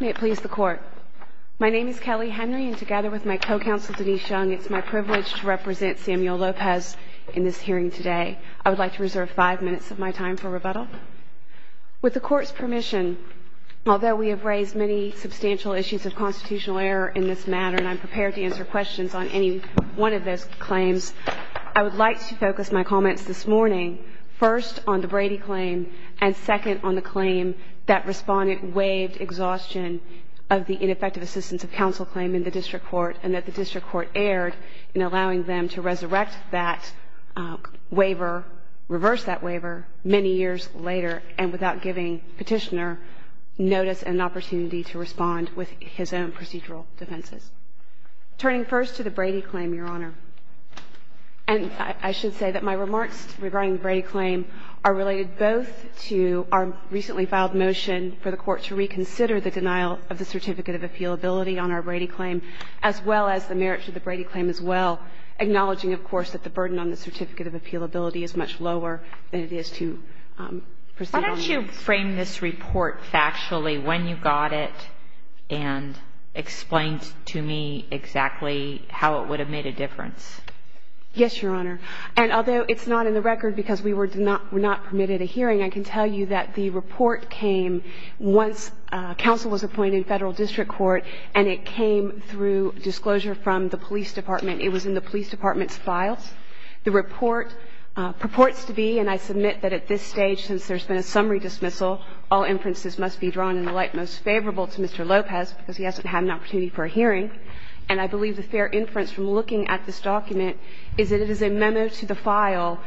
May it please the Court. My name is Kelly Henry and together with my co-counsel Denise Young, it is my privilege to represent Samuel Lopez in this hearing today. I would like to reserve five minutes of my time for rebuttal. With the Court's permission, although we have raised many substantial issues of constitutional error in this matter and I am prepared to answer questions on any one of those claims, I would like to focus my comments this morning first on the Brady claim and second on the behaved exhaustion of the ineffective assistance of counsel claim in the District Court and that the District Court erred in allowing them to resurrect that waiver, reverse that waiver many years later and without giving petitioner notice and opportunity to respond with his own procedural defenses. Turning first to the Brady claim, Your Honor, and I should say that my remarks regarding the Brady claim are related both to our recently filed motion for the Court to reconsider the denial of the Certificate of Appealability on our Brady claim as well as the merits of the Brady claim as well, acknowledging, of course, that the burden on the Certificate of Appealability is much lower than it is to proceed on it. Why don't you frame this report factually, when you got it, and explain to me exactly how it would have made a difference. Yes, Your Honor. And although it's not in the record because we were not permitted a hearing, I can tell you that the report came once counsel was appointed in Federal District Court and it came through disclosure from the police department. It was in the police department's files. The report purports to be, and I submit that at this stage, since there's been a summary dismissal, all inferences must be drawn in the light most favorable to Mr. Lopez because he hasn't had an opportunity for a hearing. And I believe the fair inference from looking at this document is that it is a memo to the file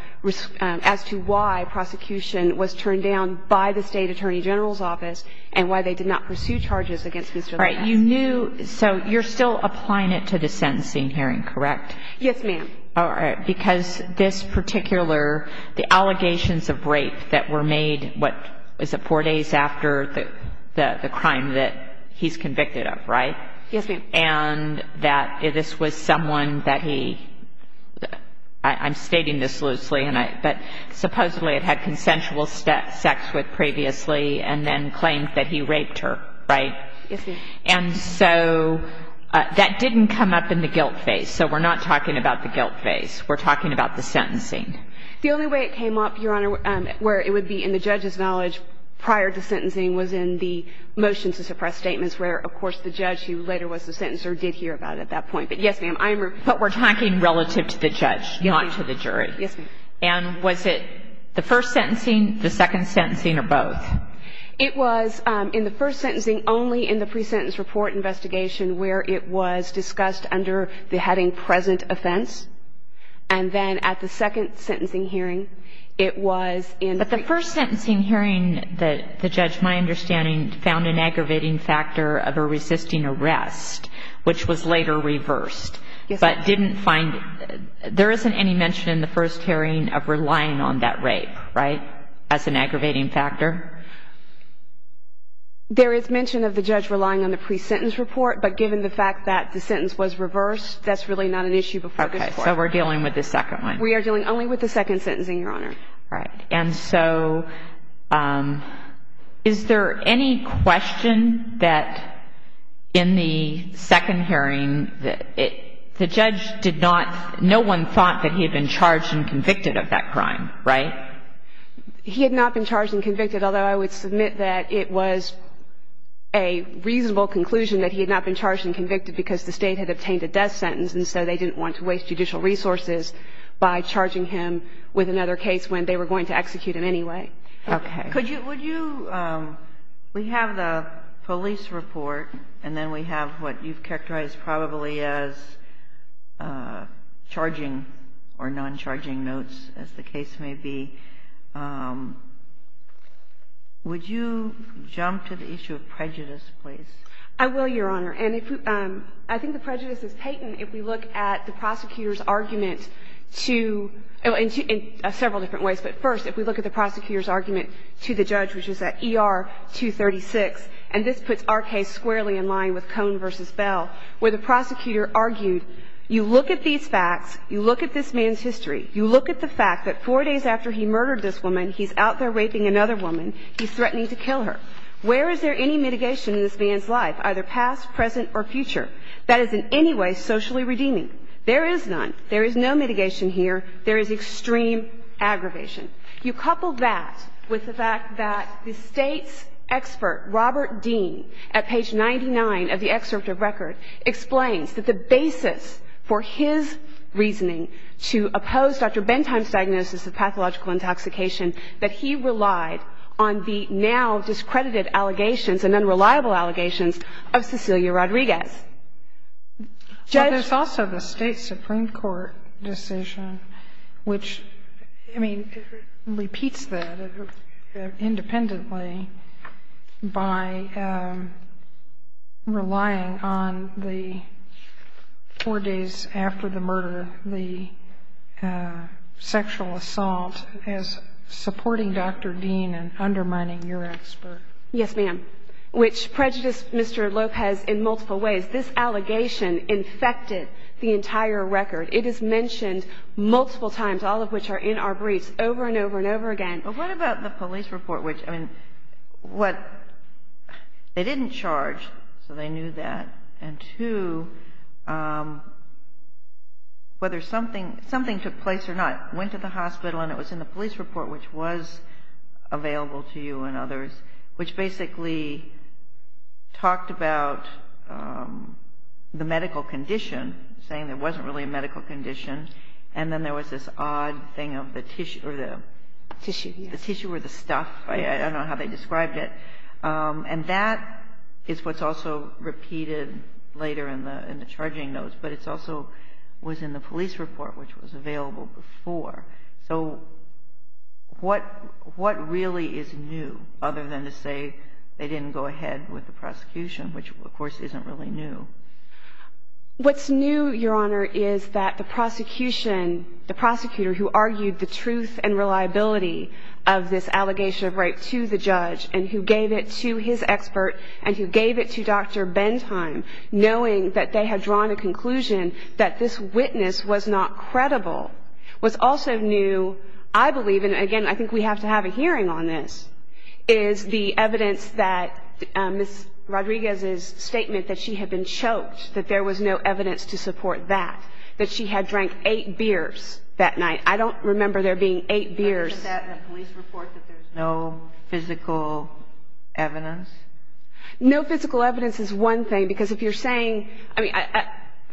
as to why prosecution was turned down by the State Attorney General's office and why they did not pursue charges against Mr. Lopez. All right. You knew, so you're still applying it to the sentencing hearing, correct? Yes, ma'am. All right. Because this particular, the allegations of rape that were made, what, is it four days after the crime that he's convicted of, right? Yes, ma'am. And that this was someone that he, I'm stating this loosely, but supposedly it had consensual sex with previously and then claimed that he raped her, right? Yes, ma'am. And so that didn't come up in the guilt phase. So we're not talking about the guilt phase. We're talking about the sentencing. The only way it came up, Your Honor, where it would be in the judge's knowledge later was the sentencer did hear about it at that point. But yes, ma'am, I am. But we're talking relative to the judge, not to the jury. Yes, ma'am. And was it the first sentencing, the second sentencing, or both? It was in the first sentencing, only in the pre-sentence report investigation, where it was discussed under the heading present offense. And then at the second sentencing hearing, it was in. But the first sentencing hearing that the judge, my understanding, found an aggravating factor of a resisting arrest, which was later reversed, but didn't find it. There isn't any mention in the first hearing of relying on that rape, right, as an aggravating factor? There is mention of the judge relying on the pre-sentence report, but given the fact that the sentence was reversed, that's really not an issue before the court. So we're dealing with the second one. We are dealing only with the second sentencing, Your Honor. Right. And so is there any question that in the second hearing, the judge did not, no one thought that he had been charged and convicted of that crime, right? He had not been charged and convicted, although I would submit that it was a reasonable conclusion that he had not been charged and convicted because the State had obtained a death sentence, and so they didn't want to waste judicial resources by charging him with another case when they were going to execute him anyway. Okay. Could you, would you, we have the police report, and then we have what you've characterized probably as charging or non-charging notes, as the case may be. Would you jump to the issue of prejudice, please? I will, Your Honor. And if we, I think the prejudice is patent if we look at the prosecutor's argument to, in several different ways, but first, if we look at the prosecutor's argument to the judge, which is at ER 236, and this puts our case squarely in line with Cone versus Bell, where the prosecutor argued, you look at these facts, you look at this man's history, you look at the fact that four days after he murdered this woman, he's out there raping another woman, he's threatening to kill her. Where is there any mitigation in this man's life? Either past, present, or future. That is in any way socially redeeming. There is none. There is no mitigation here. There is extreme aggravation. You couple that with the fact that the State's expert, Robert Dean, at page 99 of the excerpt of record, explains that the basis for his reasoning to oppose Dr. Bentheim's diagnosis of pathological intoxication, that he relied on the now discredited allegations and unreliable allegations of Cecilia Rodriguez. Judge? But there's also the State Supreme Court decision, which, I mean, repeats that independently by relying on the four days after the murder, the sexual assault, as supporting Dr. Dean and undermining your expert. Yes, ma'am. Which prejudiced Mr. Lopez in multiple ways. This allegation infected the entire record. It is mentioned multiple times, all of which are in our briefs, over and over and over again. But what about the police report, which, I mean, what, they didn't charge, so they knew that. And two, whether something, something took place or not, went to the hospital and it was available to you and others, which basically talked about the medical condition, saying there wasn't really a medical condition. And then there was this odd thing of the tissue or the stuff, I don't know how they described it. And that is what's also repeated later in the charging notes. But it also was in the police report, which was available before. So what, what really is new, other than to say they didn't go ahead with the prosecution, which, of course, isn't really new? What's new, Your Honor, is that the prosecution, the prosecutor who argued the truth and reliability of this allegation of rape to the judge and who gave it to his expert and who gave it to Dr. Bentheim, knowing that they had drawn a conclusion that this witness was not credible, what's also new, I believe, and again, I think we have to have a hearing on this, is the evidence that Ms. Rodriguez's statement that she had been choked, that there was no evidence to support that, that she had drank eight beers that night. I don't remember there being eight beers. I read that in a police report that there's no physical evidence. No physical evidence is one thing, because if you're saying, I mean,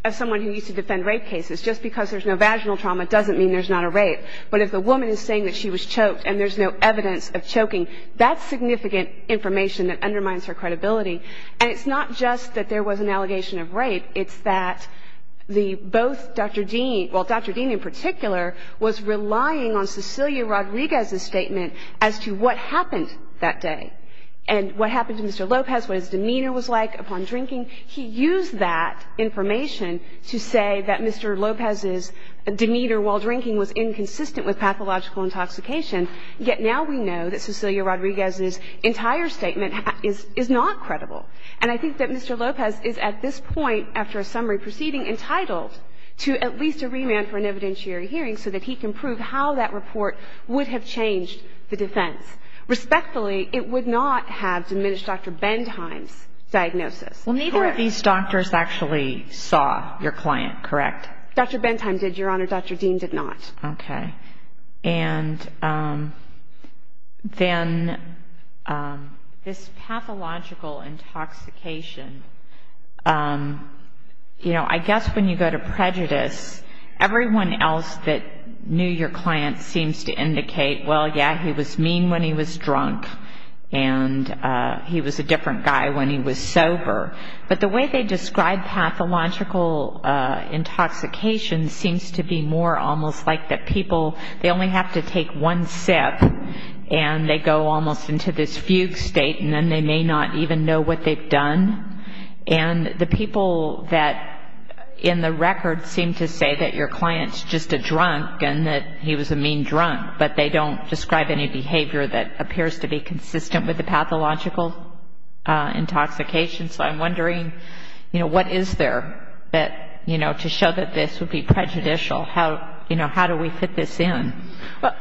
as someone who used to defend rape cases, just because there's no vaginal trauma doesn't mean there's not a rape. But if the woman is saying that she was choked and there's no evidence of choking, that's significant information that undermines her credibility. And it's not just that there was an allegation of rape. It's that the, both Dr. Dean, well, Dr. Dean in particular was relying on Cecilia Rodriguez's statement as to what happened that day and what happened to Mr. Lopez, what his demeanor was like upon drinking. He used that information to say that Mr. Lopez's demeanor while drinking was inconsistent with pathological intoxication, yet now we know that Cecilia Rodriguez's entire statement is not credible. And I think that Mr. Lopez is at this point, after a summary proceeding, entitled to at least a remand for an evidentiary hearing so that he can prove how that report would have changed the defense. Respectfully, it would not have diminished Dr. Bendheim's diagnosis. Well, neither of these doctors actually saw your client, correct? Dr. Bendheim did, Your Honor. Dr. Dean did not. Okay. And then this pathological intoxication, you know, I guess when you go to prejudice, everyone else that knew your client seems to indicate, well, yeah, he was mean when he was drunk and he was a different guy when he was sober. But the way they describe pathological intoxication seems to be more almost like that people, they only have to take one sip and they go almost into this fugue state and then they may not even know what they've done. And the people that in the record seem to say that your client's just a drunk and that he was a mean drunk, but they don't describe any behavior that appears to be consistent with the pathological intoxication. So I'm wondering, you know, what is there that, you know, to show that this would be prejudicial? How, you know, how do we fit this in? Well,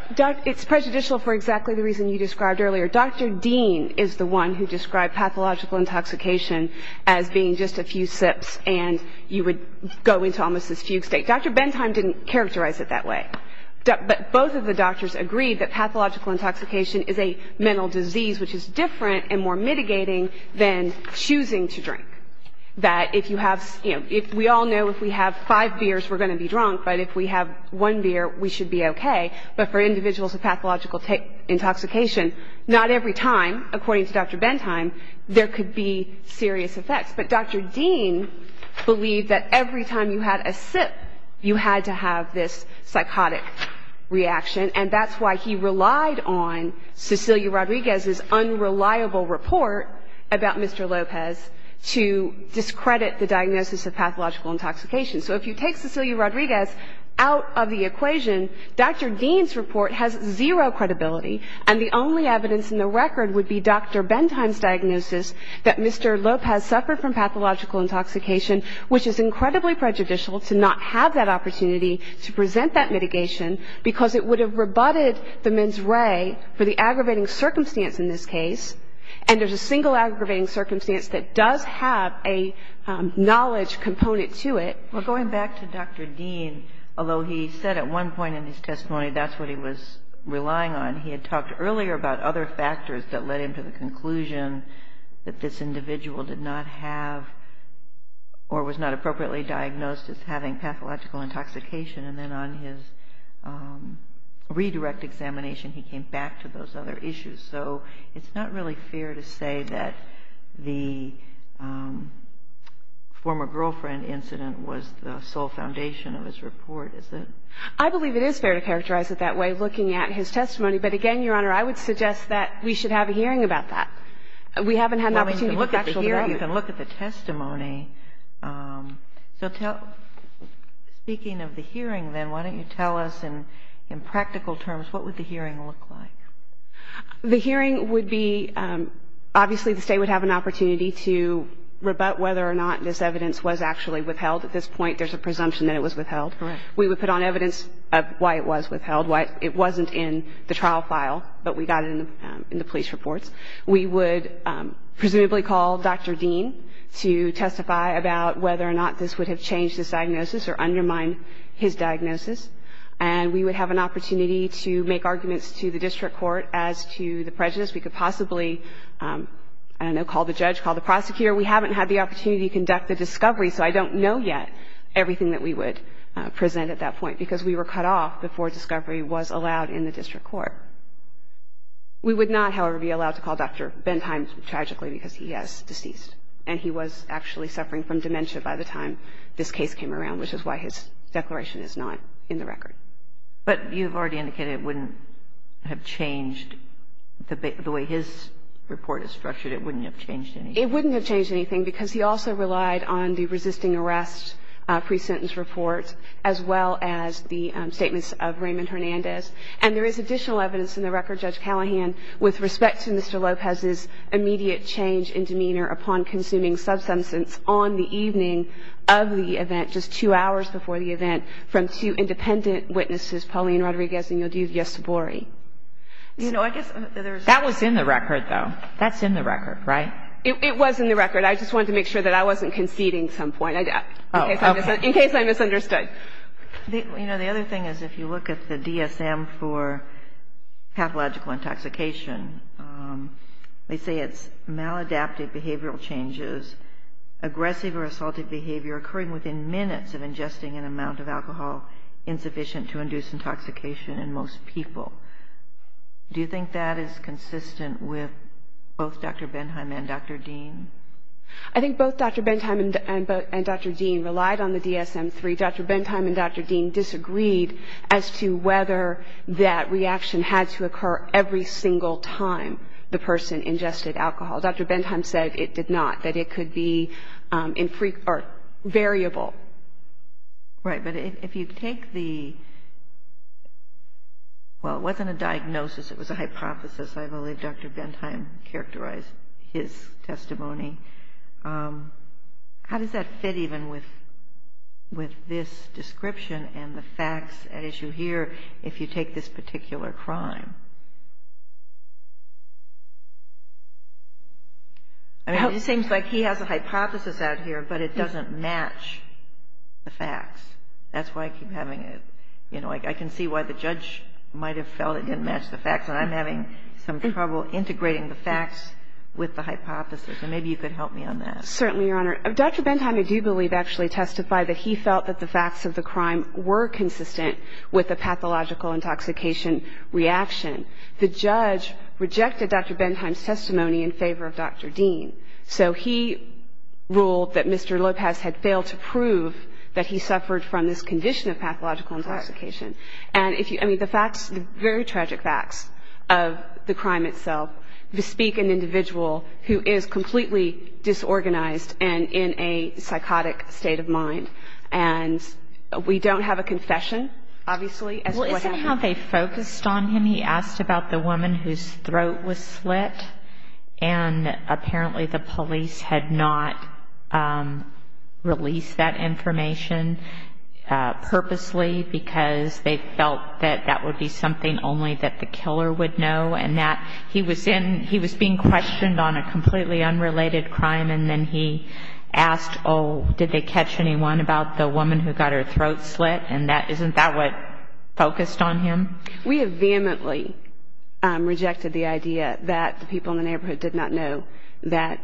it's prejudicial for exactly the reason you described earlier. Dr. Dean is the one who described pathological intoxication as being just a few sips and you would go into almost this fugue state. Dr. Bentheim didn't characterize it that way. But both of the doctors agreed that pathological intoxication is a mental disease which is different and more mitigating than choosing to drink. That if you have, you know, if we all know if we have five beers we're going to be drunk, but if we have one beer we should be okay. But for individuals with pathological intoxication, not every time, according to Dr. Bentheim, there could be serious effects. But Dr. Dean believed that every time you had a sip you had to have this psychotic reaction. And that's why he relied on Cecilia Rodriguez's unreliable report about Mr. Lopez to discredit the diagnosis of pathological intoxication. So if you take Cecilia Rodriguez out of the equation, Dr. Dean's report has zero credibility and the only evidence in the record would be Dr. Bentheim's diagnosis that Mr. Lopez suffered from pathological intoxication, which is incredibly prejudicial to not have that opportunity to present that mitigation because it would have rebutted the mens re for the aggravating circumstance in this case, and there's a single aggravating circumstance that does have a knowledge component to it. Well, going back to Dr. Dean, although he said at one point in his testimony that's what he was relying on, he had talked earlier about other factors that led him to the conclusion that this individual did not have or was not appropriately diagnosed as having pathological intoxication, and then on his redirect examination he came back to those other issues. So it's not really fair to say that the former girlfriend incident was the sole foundation of his report, is it? I believe it is fair to characterize it that way, looking at his testimony. But again, Your Honor, I would suggest that we should have a hearing about that. We haven't had an opportunity to actually hear it. Well, we can look at the testimony. So tell me, speaking of the hearing, then, why don't you tell us in practical terms what would the hearing look like? The hearing would be, obviously, the State would have an opportunity to rebut whether or not this evidence was actually withheld. At this point, there's a presumption that it was withheld. Correct. We would put on evidence of why it was withheld, why it wasn't in the trial file, but we got it in the police reports. We would presumably call Dr. Dean to testify about whether or not this would have changed his diagnosis or undermined his diagnosis, and we would have an opportunity to make arguments to the district court as to the prejudice. We could possibly, I don't know, call the judge, call the prosecutor. We haven't had the opportunity to conduct the discovery, so I don't know yet everything that we would present at that point, because we were cut off before discovery was allowed in the district court. We would not, however, be allowed to call Dr. Bentheim, tragically, because he is deceased, and he was actually suffering from dementia by the time this case came around, which is why his declaration is not in the record. But you've already indicated it wouldn't have changed the way his report is structured. It wouldn't have changed anything. It wouldn't have changed anything, because he also relied on the resisting arrest pre-sentence report, as well as the statements of Raymond Hernandez. And there is additional evidence in the record, Judge Callahan, with respect to Mr. Lopez's immediate change in demeanor upon consuming substance on the evening of the witnesses, Pauline Rodriguez and Yodiv Yesobori. You know, I guess there's... That was in the record, though. That's in the record, right? It was in the record. I just wanted to make sure that I wasn't conceding at some point, in case I misunderstood. You know, the other thing is, if you look at the DSM for pathological intoxication, they say it's maladaptive behavioral changes, aggressive or assaultive behavior occurring within minutes of ingesting an amount of alcohol insufficient to induce intoxication in most people. Do you think that is consistent with both Dr. Benheim and Dr. Dean? I think both Dr. Benheim and Dr. Dean relied on the DSM-3. Dr. Benheim and Dr. Dean disagreed as to whether that reaction had to occur every single time the person ingested alcohol. Dr. Benheim said it did not, that it could be variable. Right, but if you take the... Well, it wasn't a diagnosis. It was a hypothesis. I believe Dr. Benheim characterized his testimony. How does that fit even with this description and the facts at issue here, if you take this particular crime? I mean, it seems like he has a hypothesis out here, but it doesn't match the facts. That's why I keep having a, you know, I can see why the judge might have felt it didn't match the facts, and I'm having some trouble integrating the facts with the hypothesis, and maybe you could help me on that. Certainly, Your Honor. Dr. Benheim, I do believe, actually testified that he felt that the facts of the crime were consistent with the pathological intoxication reaction. The judge rejected Dr. Benheim's testimony in favor of Dr. Dean, so he ruled that Mr. Lopez had failed to prove that he suffered from this condition of pathological intoxication, and if you... I mean, the facts, the very tragic facts of the crime itself bespeak an individual who is completely disorganized and in a psychotic state of mind, and we don't have a confession, obviously, as to what happened. How they focused on him, he asked about the woman whose throat was slit, and apparently the police had not released that information purposely because they felt that that would be something only that the killer would know, and that he was being questioned on a completely unrelated crime, and then he asked, oh, did they catch anyone about the woman who got their throat slit, and isn't that what focused on him? We have vehemently rejected the idea that the people in the neighborhood did not know that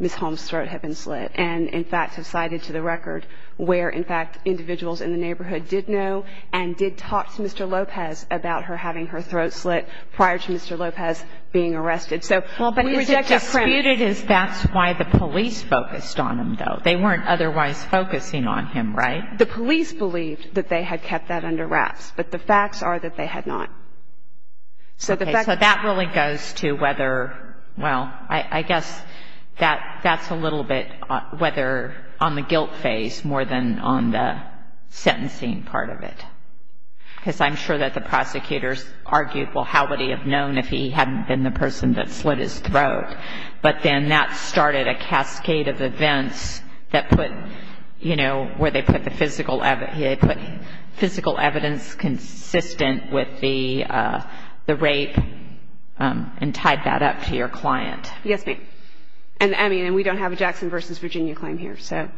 Ms. Holmes' throat had been slit, and, in fact, have cited to the record where, in fact, individuals in the neighborhood did know and did talk to Mr. Lopez about her having her throat slit prior to Mr. Lopez being arrested, so... Well, but it's a dispute, is that's why the police focused on him, though. They weren't otherwise focusing on him, right? The police believed that they had kept that under wraps, but the facts are that they had not, so the facts... Okay, so that really goes to whether, well, I guess that's a little bit whether on the guilt phase more than on the sentencing part of it, because I'm sure that the prosecutors argued, well, how would he have known if he hadn't been the person that slit his throat, but then that started a cascade of events that put, you know, where they put the physical evidence consistent with the rape and tied that up to your client. Yes, ma'am, and I mean, we don't have a Jackson versus Virginia claim here, so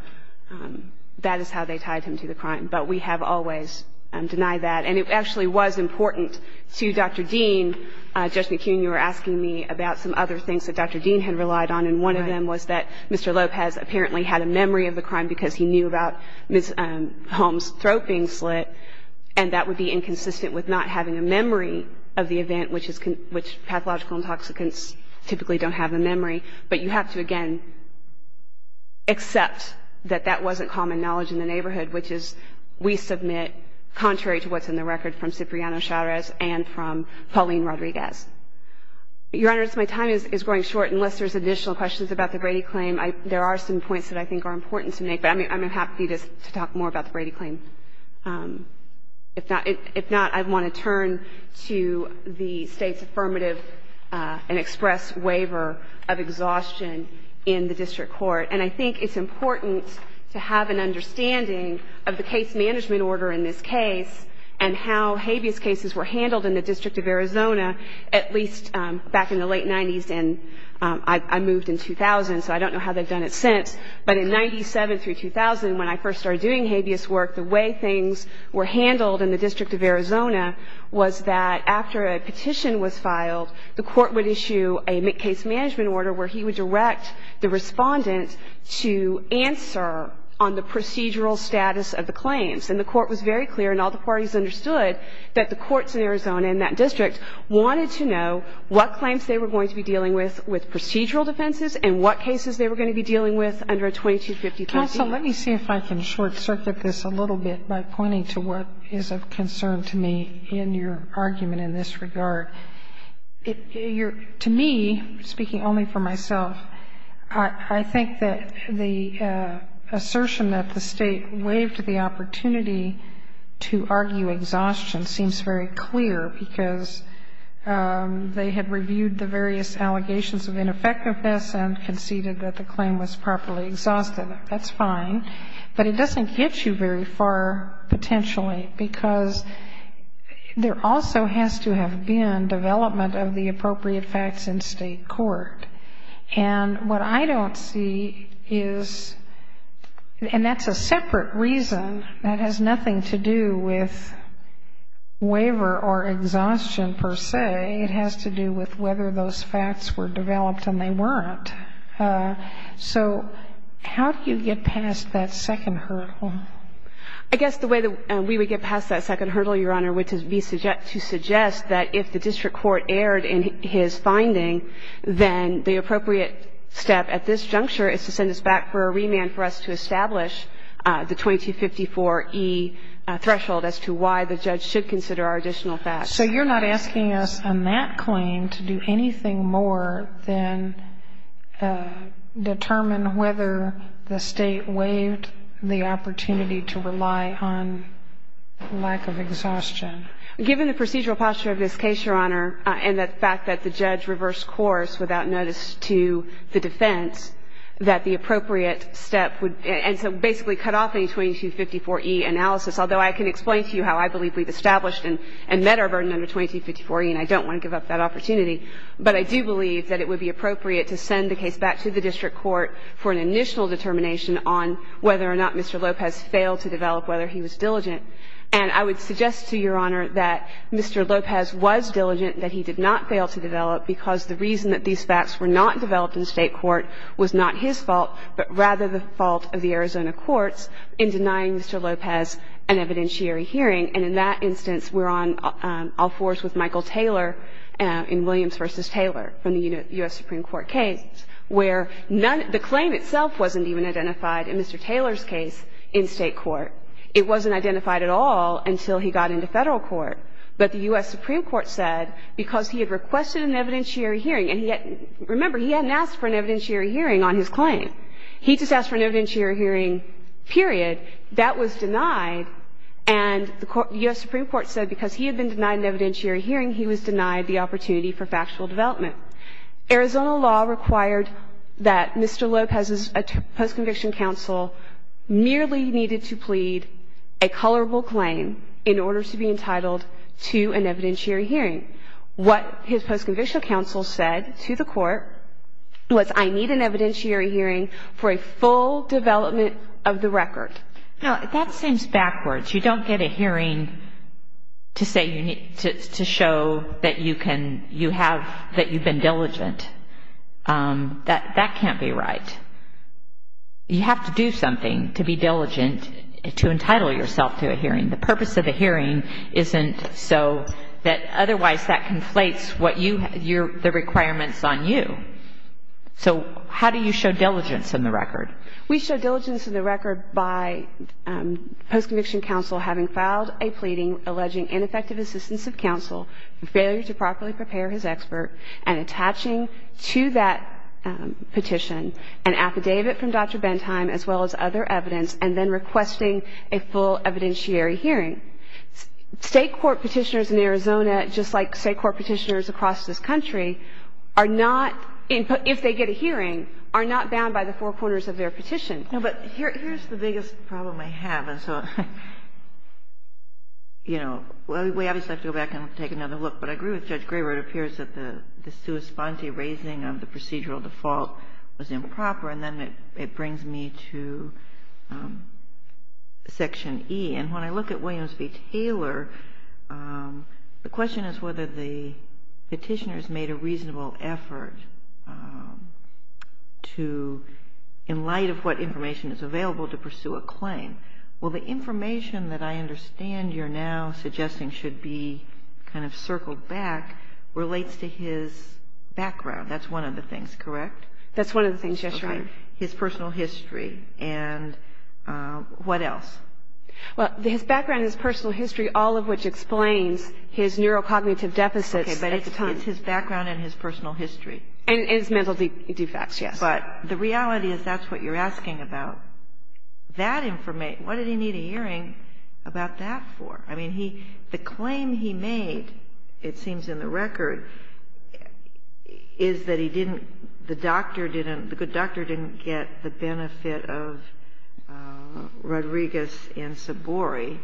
that is how they tied him to the crime, but we have always denied that, and it actually was important to Dr. Dean, Judge McKeown, you were asking me about some other things that Dr. Dean had relied on, and one of them was that Mr. Lopez apparently had a memory of the crime because he knew about Ms. Holmes' throat being slit, and that would be inconsistent with not having a memory of the event, which pathological intoxicants typically don't have a memory, but you have to, again, accept that that wasn't common knowledge in the neighborhood, which is, we submit, contrary to what's in the record, from Cipriano Chavez and from Pauline Rodriguez. Your Honor, as my time is growing short, unless there's additional questions about the Brady claim, there are some points that I think are important to make, but I'm happy to talk more about the Brady claim. If not, I want to turn to the State's affirmative and express waiver of exhaustion in the district court, and I think it's important to have an understanding of the case management order in this case and how habeas cases were handled in the District of Arizona, at least back in the late 90s, and I moved in 2000, so I don't know how they've done it since, but in 97 through 2000, when I first started doing habeas work, the way things were handled in the District of Arizona was that after a petition was filed, the court would issue a case management order where he would direct the respondent to answer on the procedural status of the claims, and the court was very clear, and all the parties understood, that the courts in Arizona and that district wanted to know what claims they were going to be dealing with with procedural defenses and what cases they were going to be dealing with under a 2253B. Counsel, let me see if I can short-circuit this a little bit by pointing to what is of concern to me in your argument in this regard. To me, speaking only for myself, I think that the assertion that the State waived the opportunity to argue exhaustion seems very clear because they had reviewed the various allegations of ineffectiveness and conceded that the claim was properly exhausted. That's fine, but it doesn't get you very far, potentially, because there also has to have been development of the appropriate facts in State court. And what I don't see is, and that's a separate reason that has nothing to do with waiver or exhaustion, per se. It has to do with whether those facts were developed, and they weren't. So how do you get past that second hurdle? I guess the way that we would get past that second hurdle, Your Honor, would be to suggest that if the district court erred in his finding, then the appropriate step at this juncture is to send us back for a remand for us to establish the 2254E threshold as to why the judge should consider our additional facts. So you're not asking us on that claim to do anything more than determine whether the State waived the opportunity to rely on lack of exhaustion? Given the procedural posture of this case, Your Honor, and the fact that the judge reversed course without notice to the defense, that the appropriate step would – and so basically cut off any 2254E analysis, although I can explain to you how I believe we've established and met our burden under 2254E, and I don't want to give up that opportunity. But I do believe that it would be appropriate to send the case back to the district court for an initial determination on whether or not Mr. Lopez failed to develop whether he was diligent. And I would suggest to Your Honor that Mr. Lopez was diligent, that he did not fail to develop, because the reason that these facts were not developed in State court was not his fault, but rather the fault of the Arizona courts in denying Mr. Lopez an evidentiary hearing. And in that instance, we're on all fours with Michael Taylor in Williams v. Taylor from the U.S. Supreme Court case, where the claim itself wasn't even identified in Mr. Taylor's case in State court. It wasn't identified at all until he got into Federal court. But the U.S. Supreme Court said because he had requested an evidentiary hearing – and remember, he hadn't asked for an evidentiary hearing on his claim. He just asked for an evidentiary hearing, period. That was denied. And the U.S. Supreme Court said because he had been denied an evidentiary hearing, he was denied the opportunity for factual development. Arizona law required that Mr. Lopez's post-conviction counsel merely needed to a colorable claim in order to be entitled to an evidentiary hearing. What his post-convictional counsel said to the court was, I need an evidentiary hearing for a full development of the record. Now, that seems backwards. You don't get a hearing to show that you've been diligent. That can't be right. You have to do something to be diligent to entitle yourself to a hearing. The purpose of a hearing isn't so that otherwise that conflates what you – the requirements on you. So how do you show diligence in the record? We show diligence in the record by post-conviction counsel having filed a pleading alleging ineffective assistance of counsel, failure to properly prepare his expert, and attaching to that petition an affidavit from Dr. Bentheim, as well as other evidence, and then requesting a full evidentiary hearing. State court petitioners in Arizona, just like state court petitioners across this country, are not – if they get a hearing, are not bound by the four corners of their petition. No, but here's the biggest problem I have. And so, you know, we obviously have to go back and take another look. But I agree with Judge Graber. It appears that the sua sponte raising of the procedural default was improper. And then it brings me to Section E. And when I look at Williams v. Taylor, the question is whether the petitioners made a reasonable effort to – in light of what information is available to pursue a claim. Well, the information that I understand you're now suggesting should be kind of circled back relates to his background. That's one of the things, correct? That's one of the things, yes, Your Honor. His personal history. And what else? Well, his background, his personal history, all of which explains his neurocognitive deficits. Okay, but it's his background and his personal history. And his mental defects, yes. But the reality is that's what you're asking about. That information, what did he need a hearing about that for? I mean, the claim he made, it seems in the record, is that he didn't – the doctor didn't – the good doctor didn't get the benefit of Rodriguez and Sabori.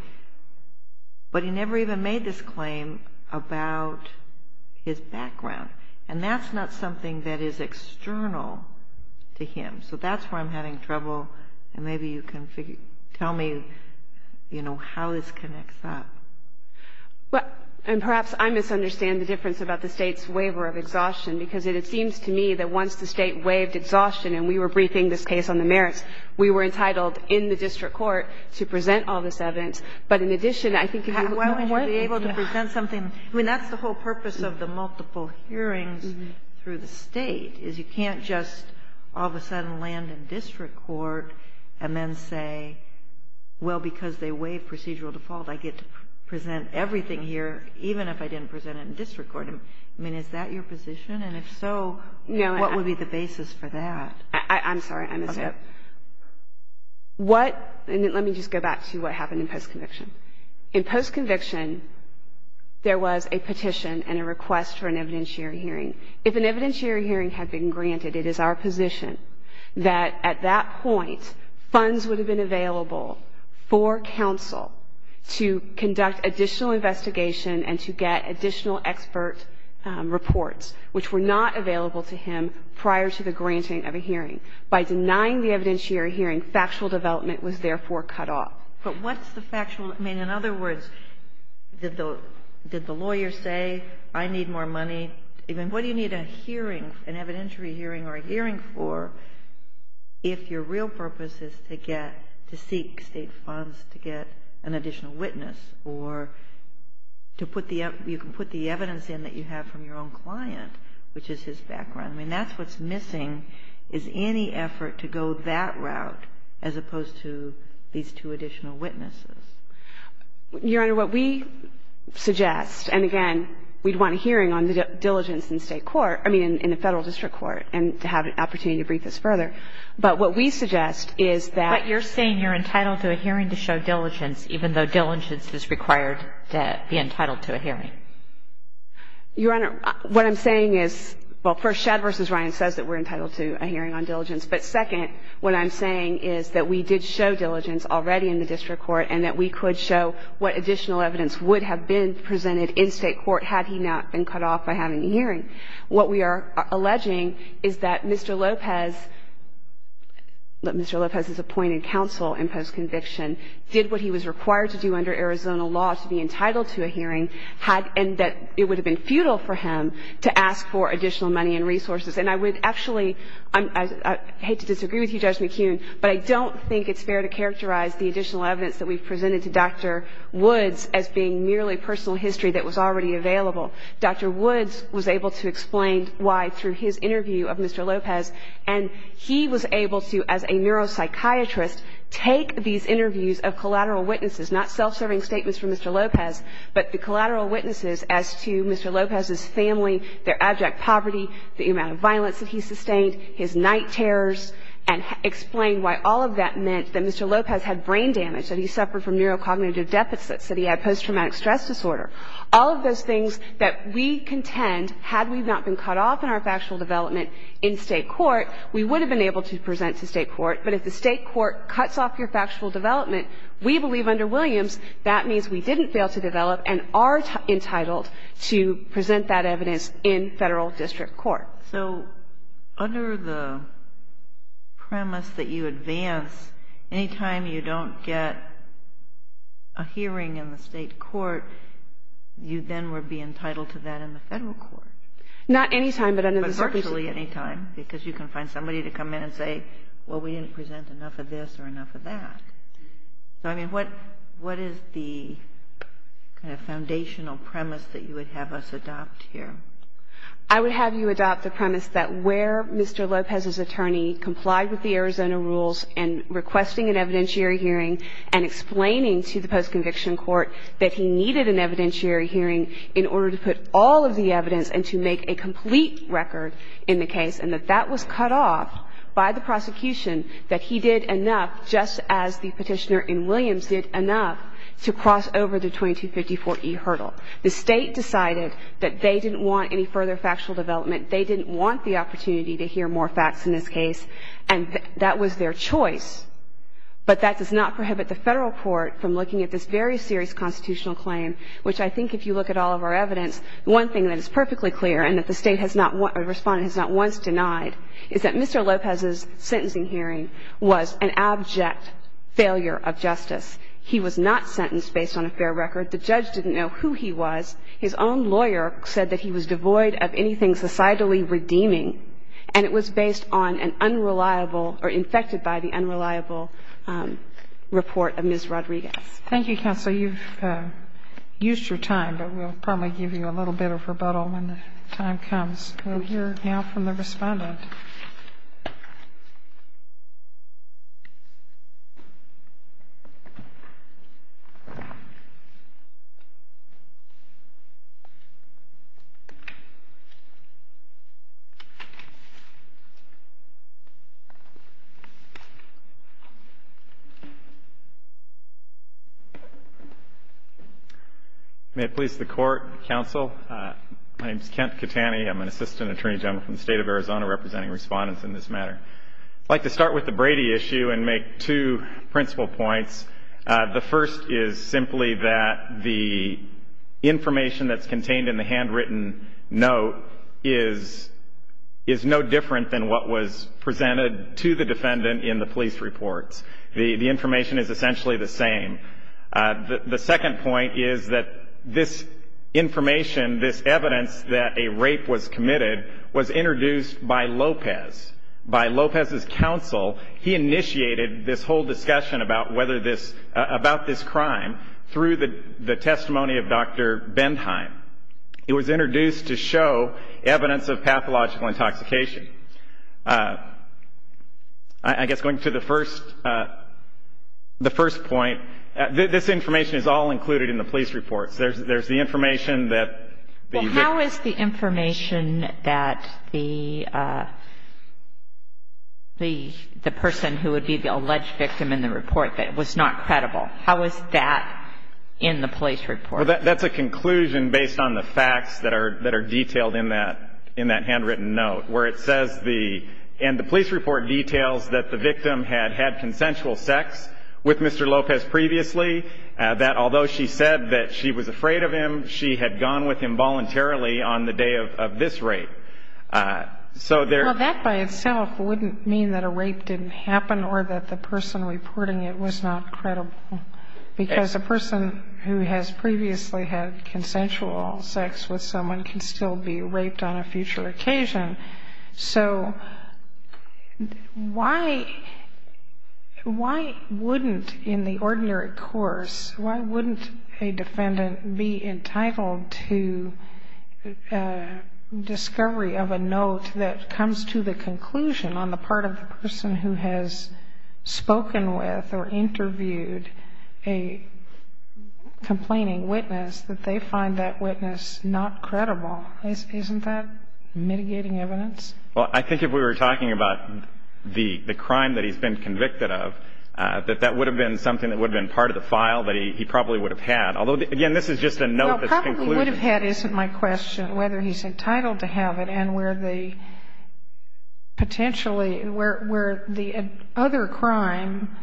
But he never even made this claim about his background. And that's not something that is external to him. So that's where I'm having trouble. And maybe you can tell me, you know, how this connects up. And perhaps I misunderstand the difference about the State's waiver of exhaustion, because it seems to me that once the State waived exhaustion, and we were briefing this case on the merits, we were entitled in the district court to present all this evidence. But in addition, I think if you – Why would you be able to present something – I mean, that's the whole purpose of the multiple hearings through the State, is you can't just all of a sudden land in district court and then say, well, because they waived procedural default, I get to present everything here, even if I didn't present it in district court. I mean, is that your position? And if so, what would be the basis for that? No, I'm sorry. I misspoke. What – and let me just go back to what happened in post-conviction. In post-conviction, there was a petition and a request for an evidentiary hearing. If an evidentiary hearing had been granted, it is our position that at that point, funds would have been available for counsel to conduct additional investigation and to get additional expert reports, which were not available to him prior to the granting of a hearing. By denying the evidentiary hearing, factual development was therefore cut off. But what's the factual – I mean, in other words, did the lawyer say, I need more money – I mean, what do you need a hearing, an evidentiary hearing or a hearing for if your real purpose is to get – to seek state funds to get an additional witness or to put the – you can put the evidence in that you have from your own client, which is his background? I mean, that's what's missing is any effort to go that route as opposed to these two additional witnesses. Your Honor, what we suggest, and again, we'd want a hearing on the diligence in state court – I mean, in the Federal District Court, and to have an opportunity to brief us further. But what we suggest is that – But you're saying you're entitled to a hearing to show diligence, even though diligence is required to be entitled to a hearing. Your Honor, what I'm saying is – well, first, Shedd v. Ryan says that we're entitled to a hearing on diligence. But second, what I'm saying is that we did show diligence already in the district court and that we could show what additional evidence would have been presented in state court had he not been cut off by having a hearing. What we are alleging is that Mr. Lopez – that Mr. Lopez has appointed counsel in post-conviction, did what he was required to do under Arizona law to be entitled to a hearing, had – and that it would have been futile for him to ask for additional money and resources. And I would actually – I hate to disagree with you, Judge McKeon, but I don't think it's fair to characterize the additional evidence that we've presented to Dr. Woods as being merely personal history that was already available. Dr. Woods was able to explain why through his interview of Mr. Lopez. And he was able to, as a neuropsychiatrist, take these interviews of collateral witnesses – not self-serving statements from Mr. Lopez, but the collateral witnesses as to Mr. Lopez's family, their abject poverty, the amount of violence that he sustained, his night terrors, and explain why all of that meant that Mr. Lopez had brain damage, that he suffered from neurocognitive deficits, that he had post-traumatic stress disorder. All of those things that we contend, had we not been cut off in our factual development in state court, we would have been able to present to state court. But if the state court cuts off your factual development, we believe under Williams that means we didn't fail to develop and are entitled to present that evidence in Federal district court. So, under the premise that you advance, anytime you don't get a hearing in the state court, you then would be entitled to that in the Federal court. Not anytime, but under the circumstances. But virtually anytime, because you can find somebody to come in and say, well, we didn't present enough of this or enough of that. So, I mean, what is the kind of foundational premise that you would have us adopt here? I would have you adopt the premise that where Mr. Lopez's attorney complied with the Arizona rules and requesting an evidentiary hearing and explaining to the post-conviction court that he needed an evidentiary hearing in order to put all of the evidence and to make a complete record in the case, and that that was cut off by the prosecution, that he did enough, just as the petitioner in Williams did enough, to cross over the 2254E hurdle. The state decided that they didn't want any further factual development. They didn't want the opportunity to hear more facts in this case, and that was their choice. But that does not prohibit the Federal court from looking at this very serious constitutional claim, which I think if you look at all of our evidence, one thing that is perfectly clear and that the state has not, or the Respondent has not once denied, is that Mr. Lopez's sentencing hearing was an abject failure of justice. He was not sentenced based on a fair record. The judge didn't know who he was. His own lawyer said that he was devoid of anything societally redeeming, and it was based on an unreliable, or infected by the unreliable report of Ms. Rodriguez. Thank you, Counsel. You've used your time, but we'll probably give you a little bit of rebuttal when the time comes. We'll hear now from the Respondent. May it please the Court, Counsel, my name is Kent Catani. I'm an Assistant Attorney General from the State of Arizona representing Respondents in this matter. I'd like to start with the Brady issue and make two principal points. The first is simply that the information that's contained in the handwritten note is no different than what was presented to the Defendant in the police reports. The information is essentially the same. The second point is that this information, this evidence that a rape was committed, was introduced by Lopez, by Lopez's counsel. He initiated this whole discussion about whether this, about this crime, through the testimony of Dr. Bendheim. It was introduced to show evidence of pathological intoxication. I guess going to the first, the first point, this information is all included in the police reports. There's the information that... How is the information that the, the, the person who would be the alleged victim in the report that was not credible, how is that in the police report? That's a conclusion based on the facts that are, that are detailed in that, in that handwritten note where it says the, and the police report details that the victim had had consensual sex with Mr. Lopez previously, that although she said that she was afraid of him, she had gone with him voluntarily on the day of, of this rape. So there... Well, that by itself wouldn't mean that a rape didn't happen or that the person reporting it was not credible, because a person who has previously had consensual sex with someone can still be raped on a future occasion. So why, why wouldn't in the ordinary course, why wouldn't a defendant be entitled to a discovery of a note that comes to the conclusion on the part of the person who has spoken with or interviewed a complaining witness that they find that witness not credible? Isn't that mitigating evidence? Well, I think if we were talking about the, the crime that he's been convicted of, that that would have been something that would have been part of the file that he, he probably would have had. Although, again, this is just a note that's conclusion. Well, probably would have had isn't my question, whether he's entitled to have it and where the potentially, where, where the other crime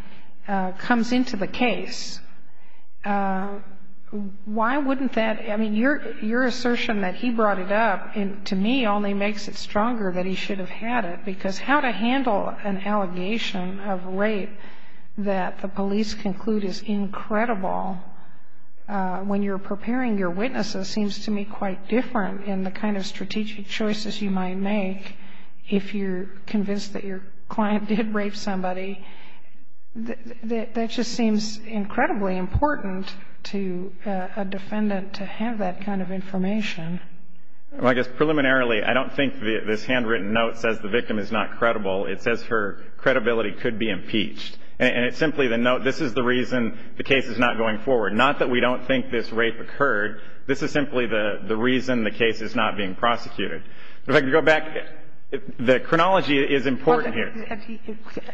comes into the case. Why wouldn't that, I mean, your, your assertion that he brought it up in, to me only makes it stronger that he should have had it because how to handle an allegation of rape that the police conclude is incredible when you're preparing your witnesses seems to me quite different in the kind of strategic choices you might make if you're convinced that your client did rape somebody. That just seems incredibly important to a defendant to have that kind of information. Well, I guess preliminarily, I don't think this handwritten note says the victim is not credible. It says her credibility could be impeached. And it's simply the note, this is the reason the case is not going forward. Not that we don't think this rape occurred. This is simply the, the reason the case is not being prosecuted. If I could go back, the chronology is important here.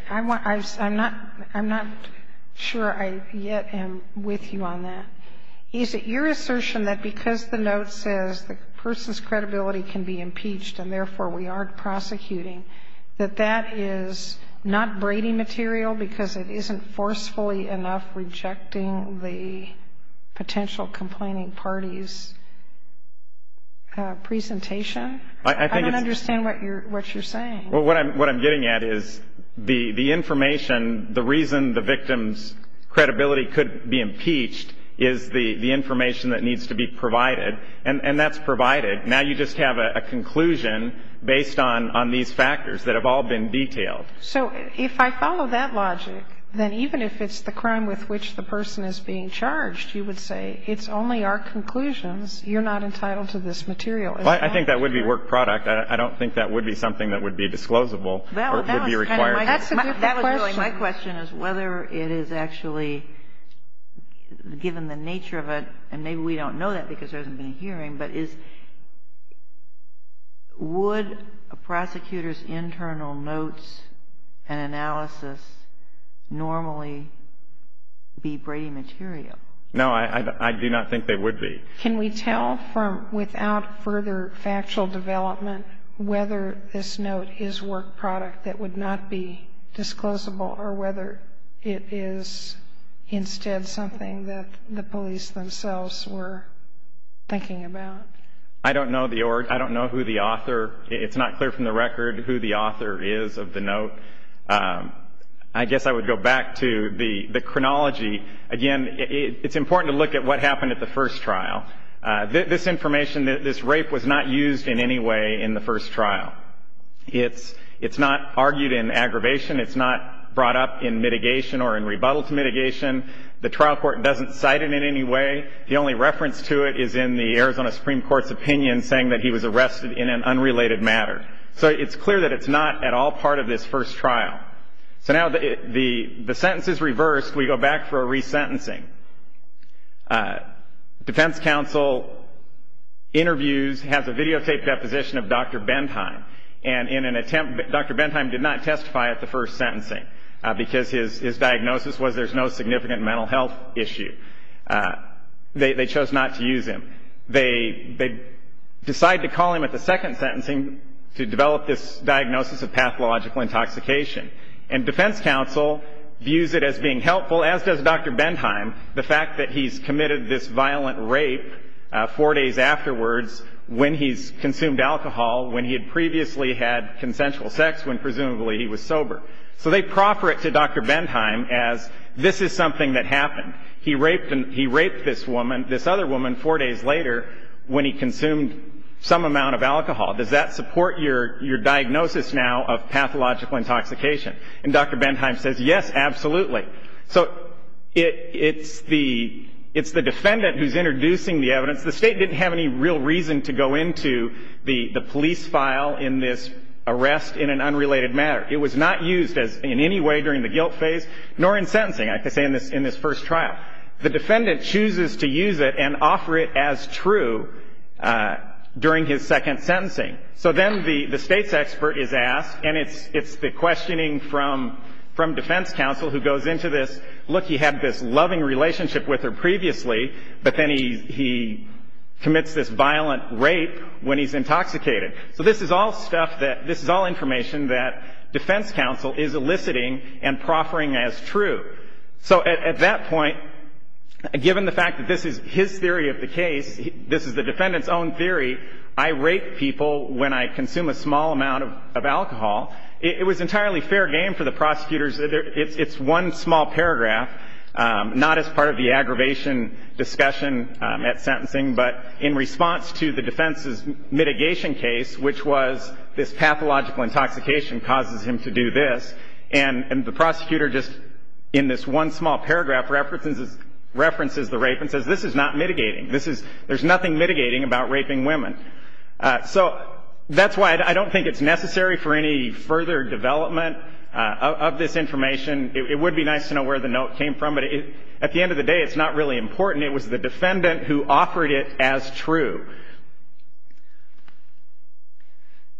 I want, I'm not, I'm not sure I yet am with you on that. Is it your assertion that because the note says the person's credibility can be impeached and therefore we aren't prosecuting, that that is not Brady material because it isn't forcefully enough rejecting the potential complaining party's presentation? I don't understand what you're, what you're saying. Well, what I'm, what I'm getting at is the, the information, the reason the victim's credibility could be impeached is the, the information that needs to be provided. And, and that's provided. Now you just have a conclusion based on, on these factors that have all been detailed. So if I follow that logic, then even if it's the crime with which the person is being charged, you would say it's only our conclusions. You're not entitled to this material. I think that would be work product. I don't think that would be something that would be disclosable or would be required. That's a different question. My question is whether it is actually, given the nature of it, and maybe we don't know that because there hasn't been a hearing, but is, would a prosecutor's internal notes and analysis normally be Brady material? No, I, I do not think they would be. Can we tell from, without further factual development, whether this note is work product that would not be disclosable or whether it is instead something that the police themselves were thinking about? I don't know the, I don't know who the author, it's not clear from the record who the author is of the note. I guess I would go back to the, the chronology. Again, it's important to look at what happened at the first trial. This information, this rape was not used in any way in the first trial. It's, it's not argued in aggravation. It's not brought up in mitigation or in rebuttal to mitigation. The trial court doesn't cite it in any way. The only reference to it is in the Arizona Supreme Court's opinion saying that he was arrested in an unrelated matter. So it's clear that it's not at all part of this first trial. So now the, the, the sentence is reversed. We go back for a resentencing. Defense counsel interviews, has a videotaped deposition of Dr. Bentheim and in an attempt, Dr. Bentheim did not testify at the first sentencing because his, his diagnosis was there's no significant mental health issue. They chose not to use him. They, they decide to call him at the second sentencing to develop this diagnosis of and defense counsel views it as being helpful as does Dr. Bentheim. The fact that he's committed this violent rape four days afterwards when he's consumed alcohol, when he had previously had consensual sex, when presumably he was sober. So they proffer it to Dr. Bentheim as this is something that happened. He raped and he raped this woman, this other woman four days later when he consumed some amount of alcohol. Does that support your, your diagnosis now of pathological intoxication? And Dr. Bentheim says, yes, absolutely. So it, it's the, it's the defendant who's introducing the evidence. The state didn't have any real reason to go into the, the police file in this arrest in an unrelated matter. It was not used as in any way during the guilt phase nor in sentencing. I could say in this, in this first trial, the defendant chooses to use it and offer it as true during his second sentencing. So then the, the State's expert is asked, and it's, it's the questioning from, from defense counsel who goes into this, look, he had this loving relationship with her previously, but then he, he commits this violent rape when he's intoxicated. So this is all stuff that, this is all information that defense counsel is eliciting and proffering as true. So at, at that point, given the fact that this is his theory of the case, this is the defendant's own theory, I rape people when I consume a small amount of, of alcohol. It was entirely fair game for the prosecutors. It's, it's one small paragraph, not as part of the aggravation discussion at sentencing, but in response to the defense's mitigation case, which was this pathological intoxication causes him to do this. And the prosecutor just in this one small paragraph references, references the rape and says, this is not mitigating. This is, there's nothing mitigating about raping women. So that's why I don't think it's necessary for any further development of this information. It would be nice to know where the note came from, but at the end of the day, it's not really important. It was the defendant who offered it as true.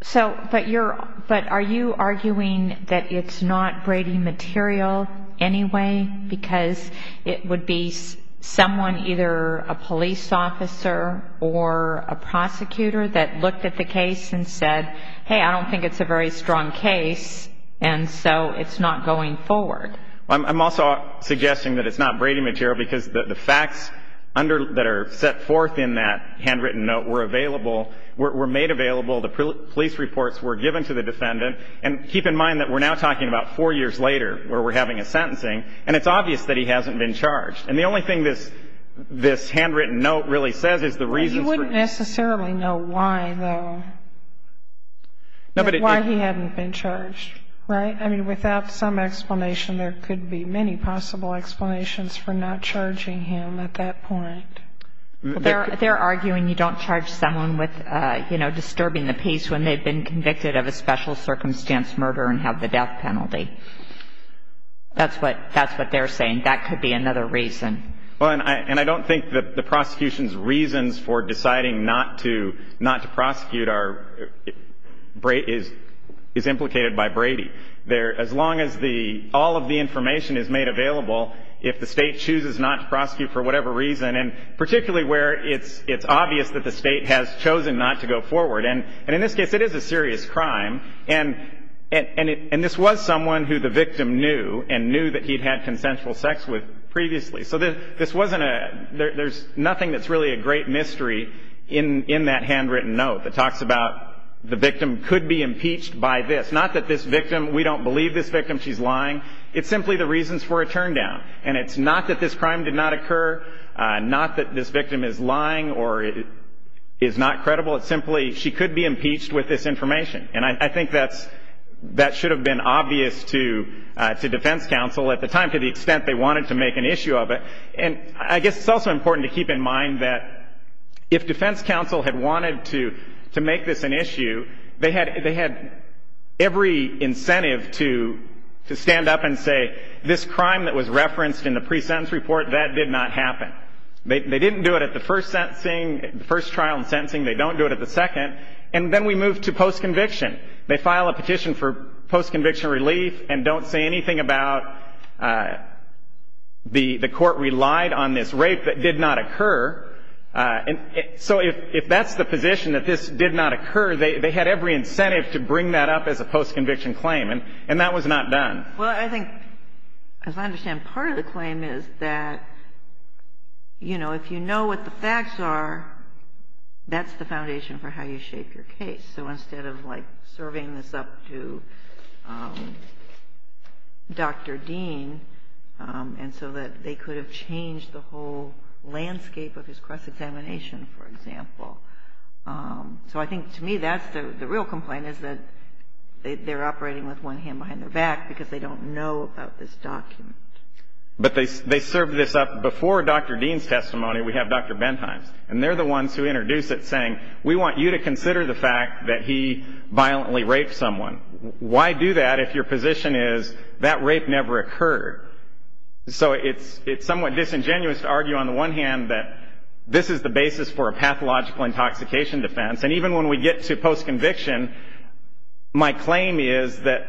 So, but you're, but are you arguing that it's not Brady material anyway, because it would be someone, either a police officer or a prosecutor that looked at the case and said, hey, I don't think it's a very strong case. And so it's not going forward. I'm also suggesting that it's not Brady material because the facts under, that are set forth in that handwritten note were available, were made available. The police reports were given to the defendant. And keep in mind that we're now talking about four years later, where we're having a sentencing and it's obvious that he hasn't been charged. And the only thing this, this handwritten note really says is the reason. You wouldn't necessarily know why though, why he hadn't been charged, right? I mean, without some explanation, there could be many possible explanations for not charging him at that point. They're, they're arguing you don't charge someone with, you know, disturbing the peace when they've been convicted of a special circumstance murder and have the death penalty. That's what, that's what they're saying. That could be another reason. Well, and I, and I don't think that the prosecution's reasons for deciding not to, not to prosecute are, is implicated by Brady. There, as long as the, all of the information is made available, if the state chooses not to prosecute for whatever reason, and particularly where it's, it's obvious that the state has chosen not to go forward. And, and in this case, it is a serious crime. And, and it, and this was someone who the victim knew and knew that he'd had consensual sex with previously. So this, this wasn't a, there, there's nothing that's really a great mystery in, in that handwritten note that talks about the victim could be impeached by this. Not that this victim, we don't believe this victim, she's lying. It's simply the reasons for a turndown. And it's not that this crime did not occur. Not that this victim is lying or is not credible. It's simply, she could be impeached with this information. And I, I think that's, that should have been obvious to, to defense counsel at the time, to the extent they wanted to make an issue of it. And I guess it's also important to keep in mind that if defense counsel had wanted to, to make this an issue, they had, they had every incentive to, to stand up and say, this crime that was referenced in the pre-sentence report, that did not happen. They didn't do it at the first sentencing, the first trial and sentencing. They don't do it at the second. And then we move to post-conviction. They file a petition for post-conviction relief and don't say anything about the, the court relied on this rape that did not occur. And so if, if that's the position that this did not occur, they, they had every incentive to bring that up as a post-conviction claim. And, and that was not done. Well, I think, as I understand, part of the claim is that, you know, if you know what the facts are, that's the foundation for how you shape your case. So instead of like serving this up to Dr. Dean, and so that they could have changed the whole landscape of his cross-examination, for example. So I think to me, that's the, the real complaint is that they, they're operating with one hand behind their back because they don't know about this document. But they, they serve this up. Before Dr. Dean's testimony, we have Dr. Bentheim's. And they're the ones who introduce it saying, we want you to consider the fact that he violently raped someone. Why do that if your position is that rape never occurred? So it's, it's somewhat disingenuous to argue on the one hand that this is the basis for a pathological intoxication defense. And even when we get to post-conviction, my claim is that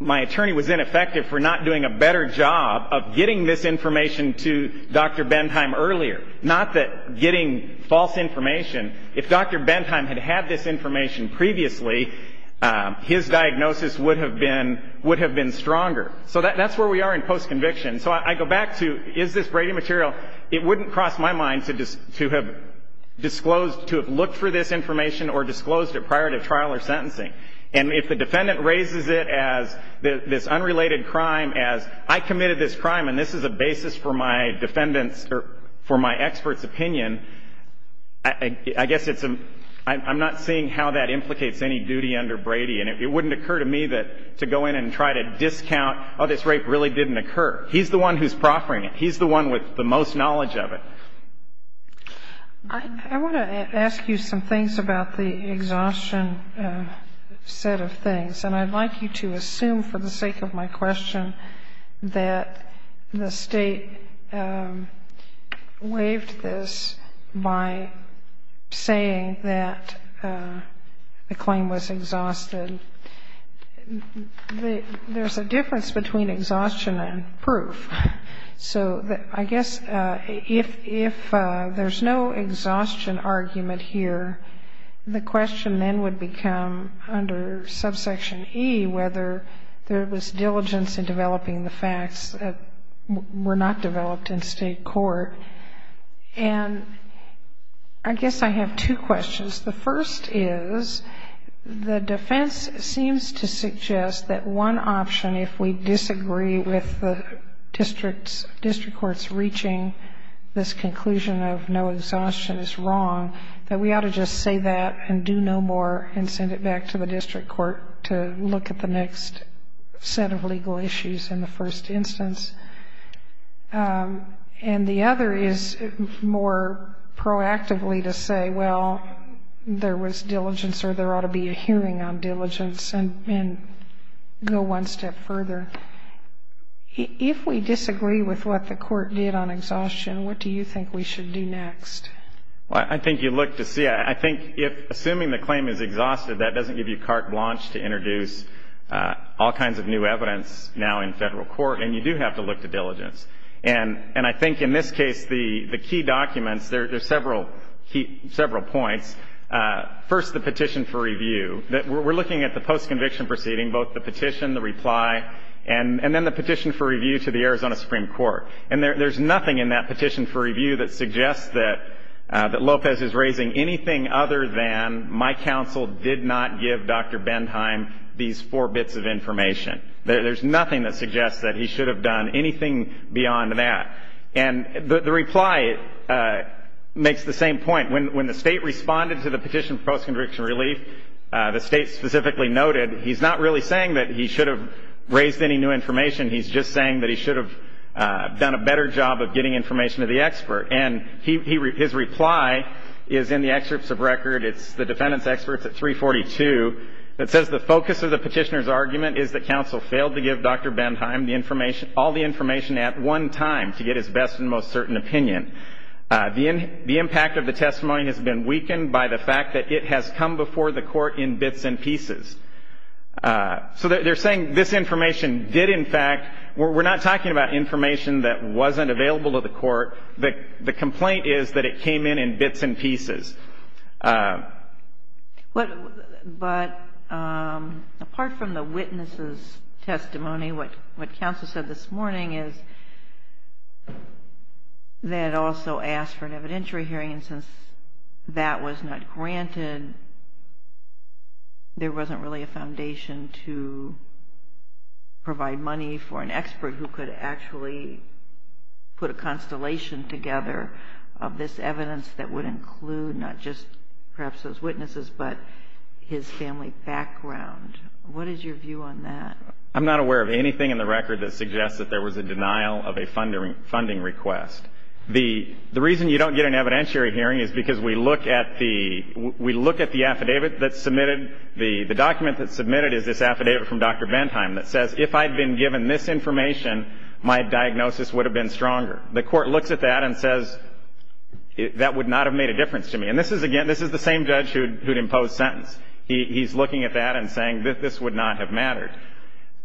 my attorney was ineffective for not doing a better job of getting this information to Dr. Bentheim earlier. Not that getting false information. If Dr. Bentheim had had this information previously, his diagnosis would have been, would have been stronger. So that, that's where we are in post-conviction. So I go back to, is this Brady material? It wouldn't cross my mind to, to have disclosed, to have looked for this information or disclosed it prior to trial or sentencing. And if the defendant raises it as this unrelated crime, as I committed this crime and this is a basis for my defendant's or for my expert's opinion, I guess it's a, I'm not seeing how that implicates any duty under Brady. And it wouldn't occur to me that, to go in and try to discount, oh, this rape really didn't occur. He's the one who's proffering it. He's the one with the most knowledge of it. I want to ask you some things about the exhaustion set of things. And I'd like you to assume for the sake of my question that the State waived this by saying that the claim was exhausted. There's a difference between exhaustion and proof. So I guess if there's no exhaustion argument here, the question then would become under subsection E, whether there was diligence in developing the facts that were not developed in State court. And I guess I have two questions. The first is, the defense seems to suggest that one option, if we disagree with the District Court's reaching this conclusion of no exhaustion is wrong, that we ought to just say that and do no more and send it back to the District Court to look at the next set of legal issues in the first instance. And the other is more proactively to say, well, there was diligence or there ought to be a hearing on diligence and go one step further. If we disagree with what the Court did on exhaustion, what do you think we should do next? Well, I think you look to see. I think if assuming the claim is exhausted, that doesn't give you carte blanche to introduce all kinds of new evidence now in Federal court. And you do have to look to diligence. And I think in this case, the key documents, there are several points. First, the petition for review. We're looking at the post-conviction proceeding, both the petition, the reply, and then the petition for review to the Arizona Supreme Court. And there's nothing in that petition for review that suggests that Lopez is raising anything other than my counsel did not give Dr. Benheim these four bits of information. There's nothing that suggests that he should have done anything beyond that. And the reply makes the same point. When the State responded to the petition for post-conviction relief, the State specifically noted he's not really saying that he should have raised any new information. He's just saying that he should have done a better job of getting information to the expert. And his reply is in the excerpts of record. It's the defendant's experts at 342 that says the focus of the petitioner's argument is that counsel failed to give Dr. Benheim all the information at one time to get his best and most certain opinion. The impact of the testimony has been weakened by the fact that it has come before the Court in bits and pieces. So they're saying this information did, in fact, we're not talking about information that wasn't available to the Court. The complaint is that it came in in bits and pieces. But apart from the witness' testimony, what counsel said this morning is they had also asked for an evidentiary hearing. And since that was not granted, there wasn't really a foundation to provide money for an expert who could actually put a constellation together of this evidence that would include not just perhaps those witnesses, but his family background. What is your view on that? I'm not aware of anything in the record that suggests that there was a denial of a funding request. The reason you don't get an evidentiary hearing is because we look at the affidavit that's submitted. The document that's submitted is this affidavit from Dr. Benheim that says if I'd been given this information, my diagnosis would have been stronger. The Court looks at that and says that would not have made a difference to me. This is the same judge who'd imposed sentence. He's looking at that and saying that this would not have mattered.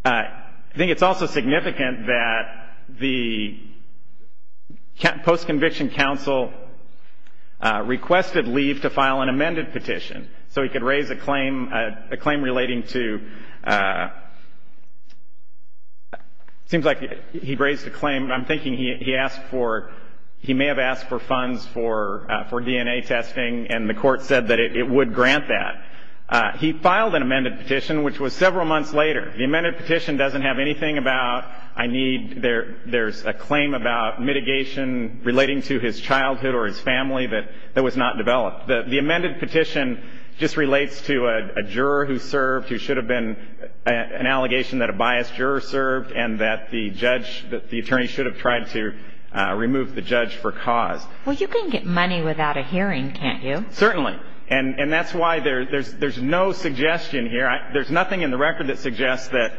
I think it's also significant that the post-conviction counsel requested leave to file an amended petition so he could raise a claim relating to, it seems like he raised a claim, I'm thinking he asked for, he may have asked for funds for DNA testing and the Court said that it would grant that. He filed an amended petition which was several months later. The amended petition doesn't have anything about I need, there's a claim about mitigation relating to his childhood or his family that was not developed. The amended petition just relates to a juror who served who should have been, an attorney should have tried to remove the judge for cause. Well, you can get money without a hearing, can't you? Certainly. And that's why there's no suggestion here. There's nothing in the record that suggests that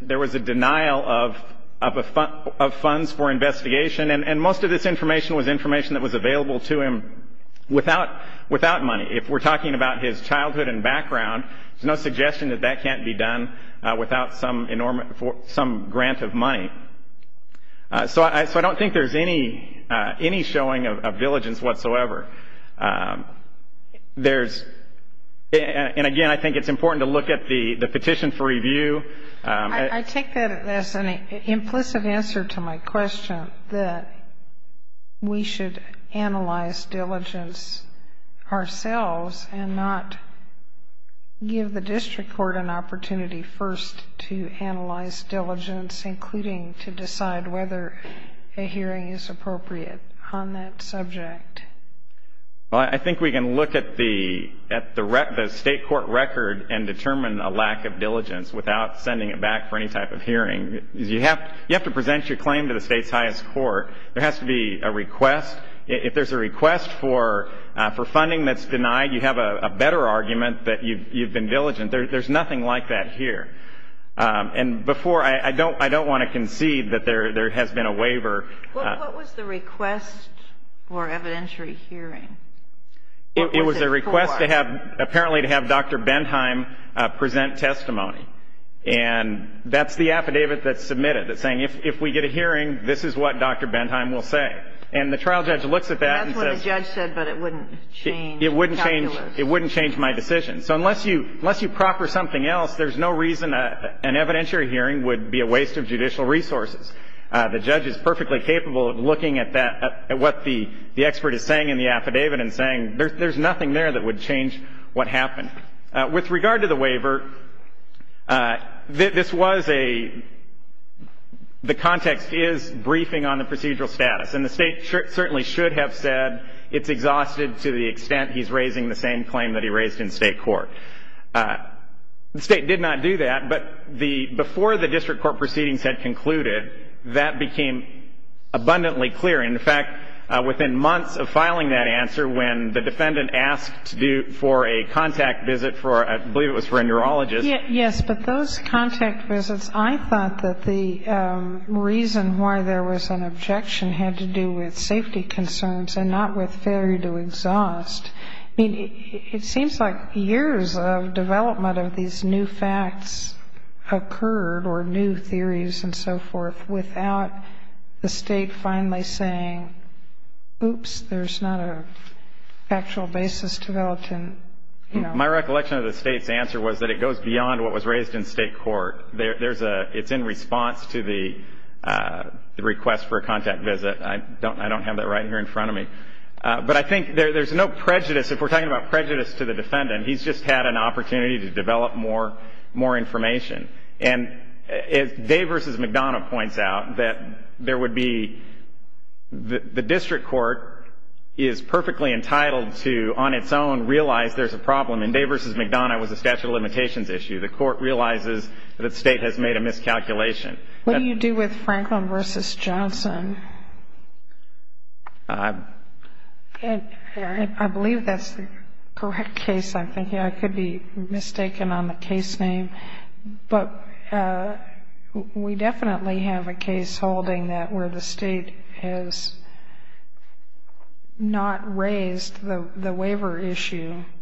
there was a denial of funds for investigation and most of this information was information that was available to him without money. If we're talking about his childhood and background, there's no suggestion that that money. So I don't think there's any showing of diligence whatsoever. There's, and again, I think it's important to look at the petition for review. I take that as an implicit answer to my question that we should analyze diligence ourselves and not give the district court an opportunity first to analyze diligence, including to decide whether a hearing is appropriate on that subject. Well, I think we can look at the state court record and determine a lack of diligence without sending it back for any type of hearing. You have to present your claim to the state's highest court. There has to be a request. If there's a request for funding that's denied, you have a better argument that you've been diligent. There's nothing like that here. And before, I don't want to concede that there has been a waiver. What was the request for evidentiary hearing? It was a request to have, apparently, to have Dr. Bentheim present testimony. And that's the affidavit that's submitted that's saying, if we get a hearing, this is what Dr. Bentheim will say. And the trial judge looks at that and says… And that's what the judge said, but it wouldn't change calculus. It wouldn't change my decision. So unless you proper something else, there's no reason an evidentiary hearing would be a waste of judicial resources. The judge is perfectly capable of looking at that, at what the expert is saying in the affidavit and saying there's nothing there that would change what happened. With regard to the waiver, this was a – the context is briefing on the procedural status. And the State certainly should have said it's exhausted to the extent he's raising the same claim that he raised in State court. The State did not do that. But the – before the district court proceedings had concluded, that became abundantly clear. In fact, within months of filing that answer, when the defendant asked to do – for a contact visit for – I believe it was for a neurologist. Yes. But those contact visits, I thought that the reason why there was an objection had to do with safety concerns and not with failure to exhaust. I mean, it seems like years of development of these new facts occurred or new theories and so forth without the State finally saying, oops, there's not a factual basis developed and, you know… My recollection of the State's answer was that it goes beyond what was raised in State court. There's a – it's in response to the request for a contact visit. I don't have that right here in front of me. But I think there's no prejudice – if we're talking about prejudice to the defendant, he's just had an opportunity to develop more information. And as Day v. McDonough points out, that there would be – the district court is perfectly entitled to, on its own, realize there's a problem. And Day v. McDonough was a statute of limitations issue. The court realizes that the State has made a miscalculation. What do you do with Franklin v. Johnson? And I believe that's the correct case. I'm thinking I could be mistaken on the case name. But we definitely have a case holding that where the State has not raised the waiver issue –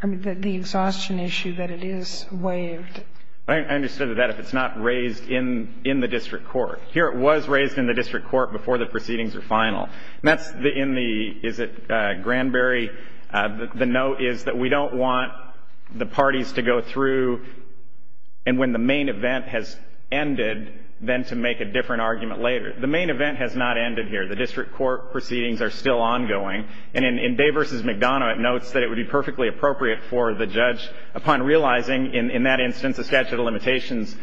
I mean, the exhaustion issue that it is waived. But I understood that if it's not raised in the district court. Here it was raised in the district court before the proceedings were final. And that's in the – is it Granberry? The note is that we don't want the parties to go through – and when the main event has ended, then to make a different argument later. The main event has not ended here. The district court proceedings are still ongoing. And in Day v. McDonough, it notes that it would be perfectly appropriate for the judge, upon realizing in that instance a statute of limitations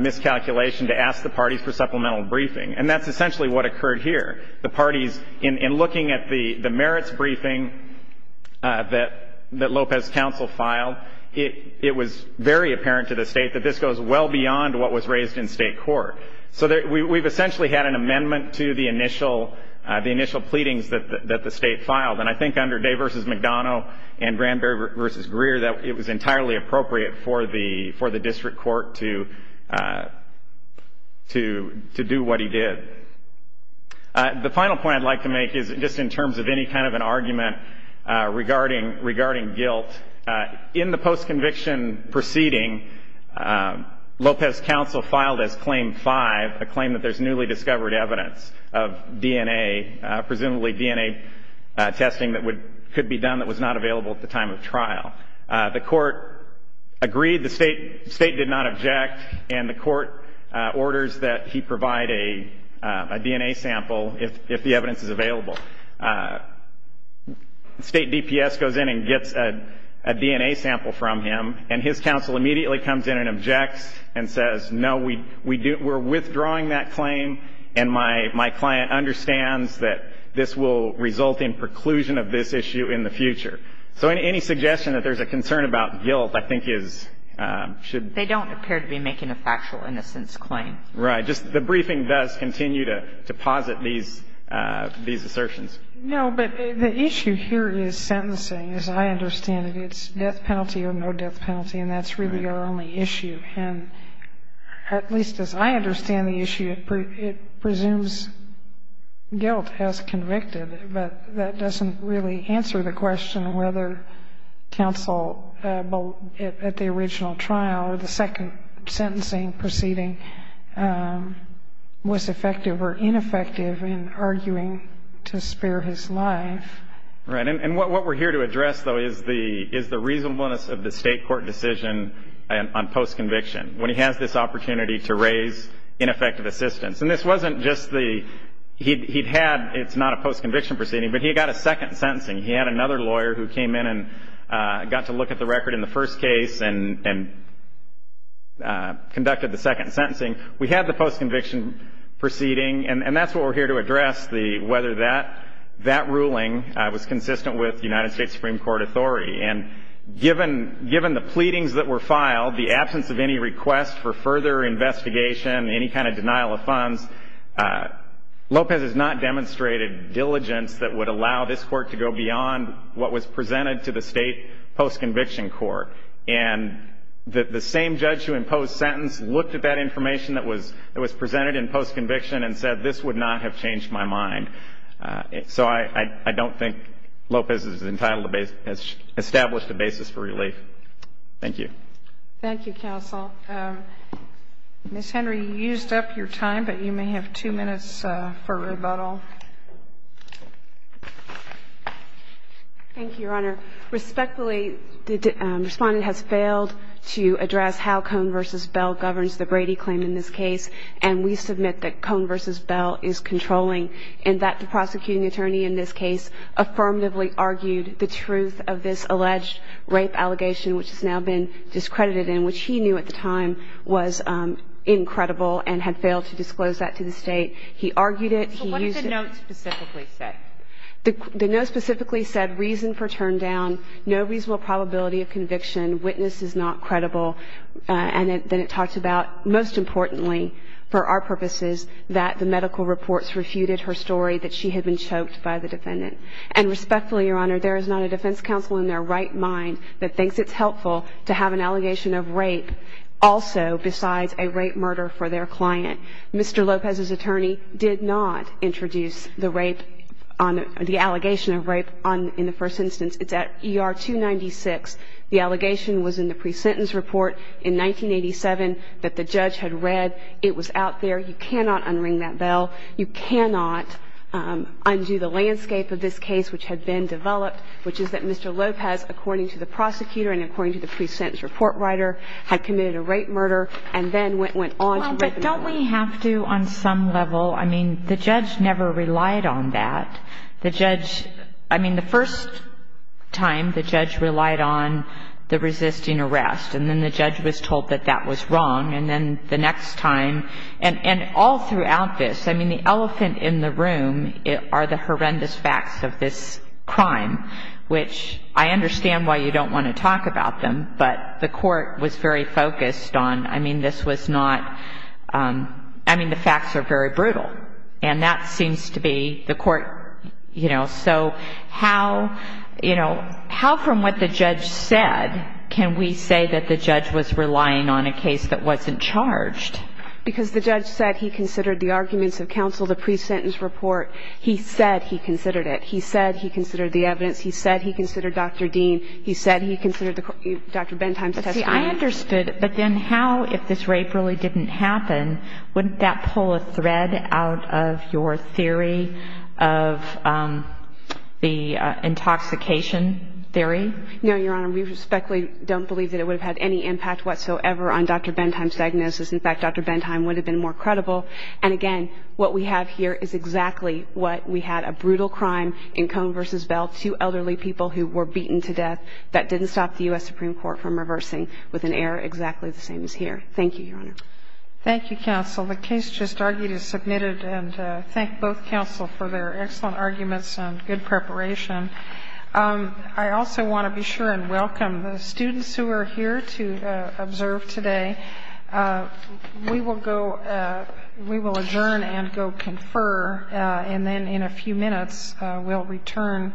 miscalculation, to ask the parties for supplemental briefing. And that's essentially what occurred here. The parties – in looking at the merits briefing that Lopez counsel filed, it was very apparent to the State that this goes well beyond what was raised in state court. So we've essentially had an amendment to the initial pleadings that the State filed. And I think under Day v. McDonough and Granberry v. Greer that it was entirely appropriate for the district court to do what he did. The final point I'd like to make is just in terms of any kind of an argument regarding guilt. In the post-conviction proceeding, Lopez counsel filed as Claim 5, a claim that there's newly discovered evidence of DNA, presumably DNA testing that could be done that was not available at the time of trial. The court agreed. The State did not object. And the court orders that he provide a DNA sample if the evidence is available. State DPS goes in and gets a DNA sample from him, and his counsel immediately comes in and objects and says, no, we're withdrawing that claim, and my client understands that this will result in preclusion of this issue in the future. So any suggestion that there's a concern about guilt, I think, is – should – is a little bit of a deference to the fact that the defendant is not making a factual innocence claim. Right. Just the briefing does continue to posit these – these assertions. No, but the issue here is sentencing. As I understand it, it's death penalty or no death penalty, and that's really our only issue. And at least as I understand the issue, it presumes guilt as convicted, but that doesn't really answer the question whether counsel at the original trial or the second sentencing proceeding was effective or ineffective in arguing to spare his life. Right. And what we're here to address, though, is the reasonableness of the State court decision on post-conviction, when he has this opportunity to raise ineffective assistance. And this wasn't just the – he'd had – it's not a post-conviction proceeding, but he got a second sentencing. He had another lawyer who came in and got to look at the record in the first case and conducted the second sentencing. We had the post-conviction proceeding, and that's what we're here to address, the – whether that ruling was consistent with United States Supreme Court authority. And given – given the pleadings that were filed, the absence of any request for further investigation, any kind of denial of funds, Lopez has not demonstrated diligence that would allow this Court to go beyond what was presented to the State post-conviction court. And the same judge who imposed sentence looked at that information that was presented in post-conviction and said, this would not have changed my mind. So I don't think Lopez is entitled to – has established a basis for relief. Thank you. Thank you, counsel. Ms. Henry, you used up your time, but you may have two minutes for rebuttal. Thank you, Your Honor. Respectfully, the respondent has failed to address how Cohn v. Bell governs the Brady claim in this case. And we submit that Cohn v. Bell is controlling and that the prosecuting attorney in this case affirmatively argued the truth of this alleged rape allegation, which has now been discredited and which he knew at the time was incredible and had failed to disclose that to the State. He argued it. He used it. The note specifically said reason for turn down, no reasonable probability of conviction, witness is not credible. And then it talks about, most importantly for our purposes, that the medical reports refuted her story that she had been choked by the defendant. And respectfully, Your Honor, there is not a defense counsel in their right mind that thinks it's helpful to have an allegation of rape also besides a rape murder for their client. Mr. Lopez's attorney did not introduce the rape on the allegation of rape on in the first instance. It's at ER 296. The allegation was in the pre-sentence report in 1987 that the judge had read. It was out there. You cannot unring that bell. You cannot undo the landscape of this case, which had been developed, which is that Mr. Lopez, according to the prosecutor and according to the pre-sentence report writer, had committed a rape murder and then went on to rape another. But don't we have to, on some level, I mean, the judge never relied on that. The judge, I mean, the first time, the judge relied on the resisting arrest. And then the judge was told that that was wrong. And then the next time, and all throughout this, I mean, the elephant in the room are the horrendous facts of this crime, which I understand why you don't want to talk about them. But the court was very focused on, I mean, this was not, I mean, the facts are very brutal. And that seems to be the court, you know, so how, you know, how from what the judge said can we say that the judge was relying on a case that wasn't charged? Because the judge said he considered the arguments of counsel, the pre-sentence report. He said he considered it. He said he considered the evidence. He said he considered Dr. Dean. He said he considered Dr. Bentheim's testimony. But see, I understood. But then how, if this rape really didn't happen, wouldn't that pull a thread out of your theory of the intoxication theory? No, Your Honor, we respectfully don't believe that it would have had any impact whatsoever on Dr. Bentheim's diagnosis. In fact, Dr. Bentheim would have been more credible. And again, what we have here is exactly what we had, a brutal crime in Cone v. Bell, two elderly people who were beaten to death. That didn't stop the U.S. Supreme Court from reversing with an error exactly the same as here. Thank you, Your Honor. Thank you, counsel. The case just argued is submitted. And thank both counsel for their excellent arguments and good preparation. I also want to be sure and welcome the students who are here to observe today. We will go, we will adjourn and go confer. And then in a few minutes, we'll return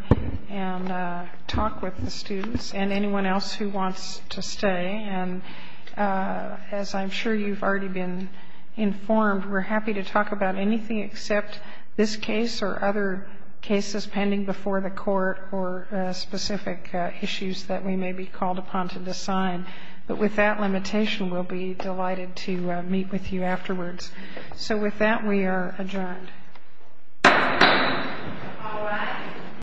and talk with the students and anyone else who wants to stay. And as I'm sure you've already been informed, we're happy to talk about anything except this case or other cases pending before the Court or specific issues that we may be called upon to decide. But with that limitation, we'll be delighted to meet with you afterwards. So with that, we are adjourned. Thank you. Thank you.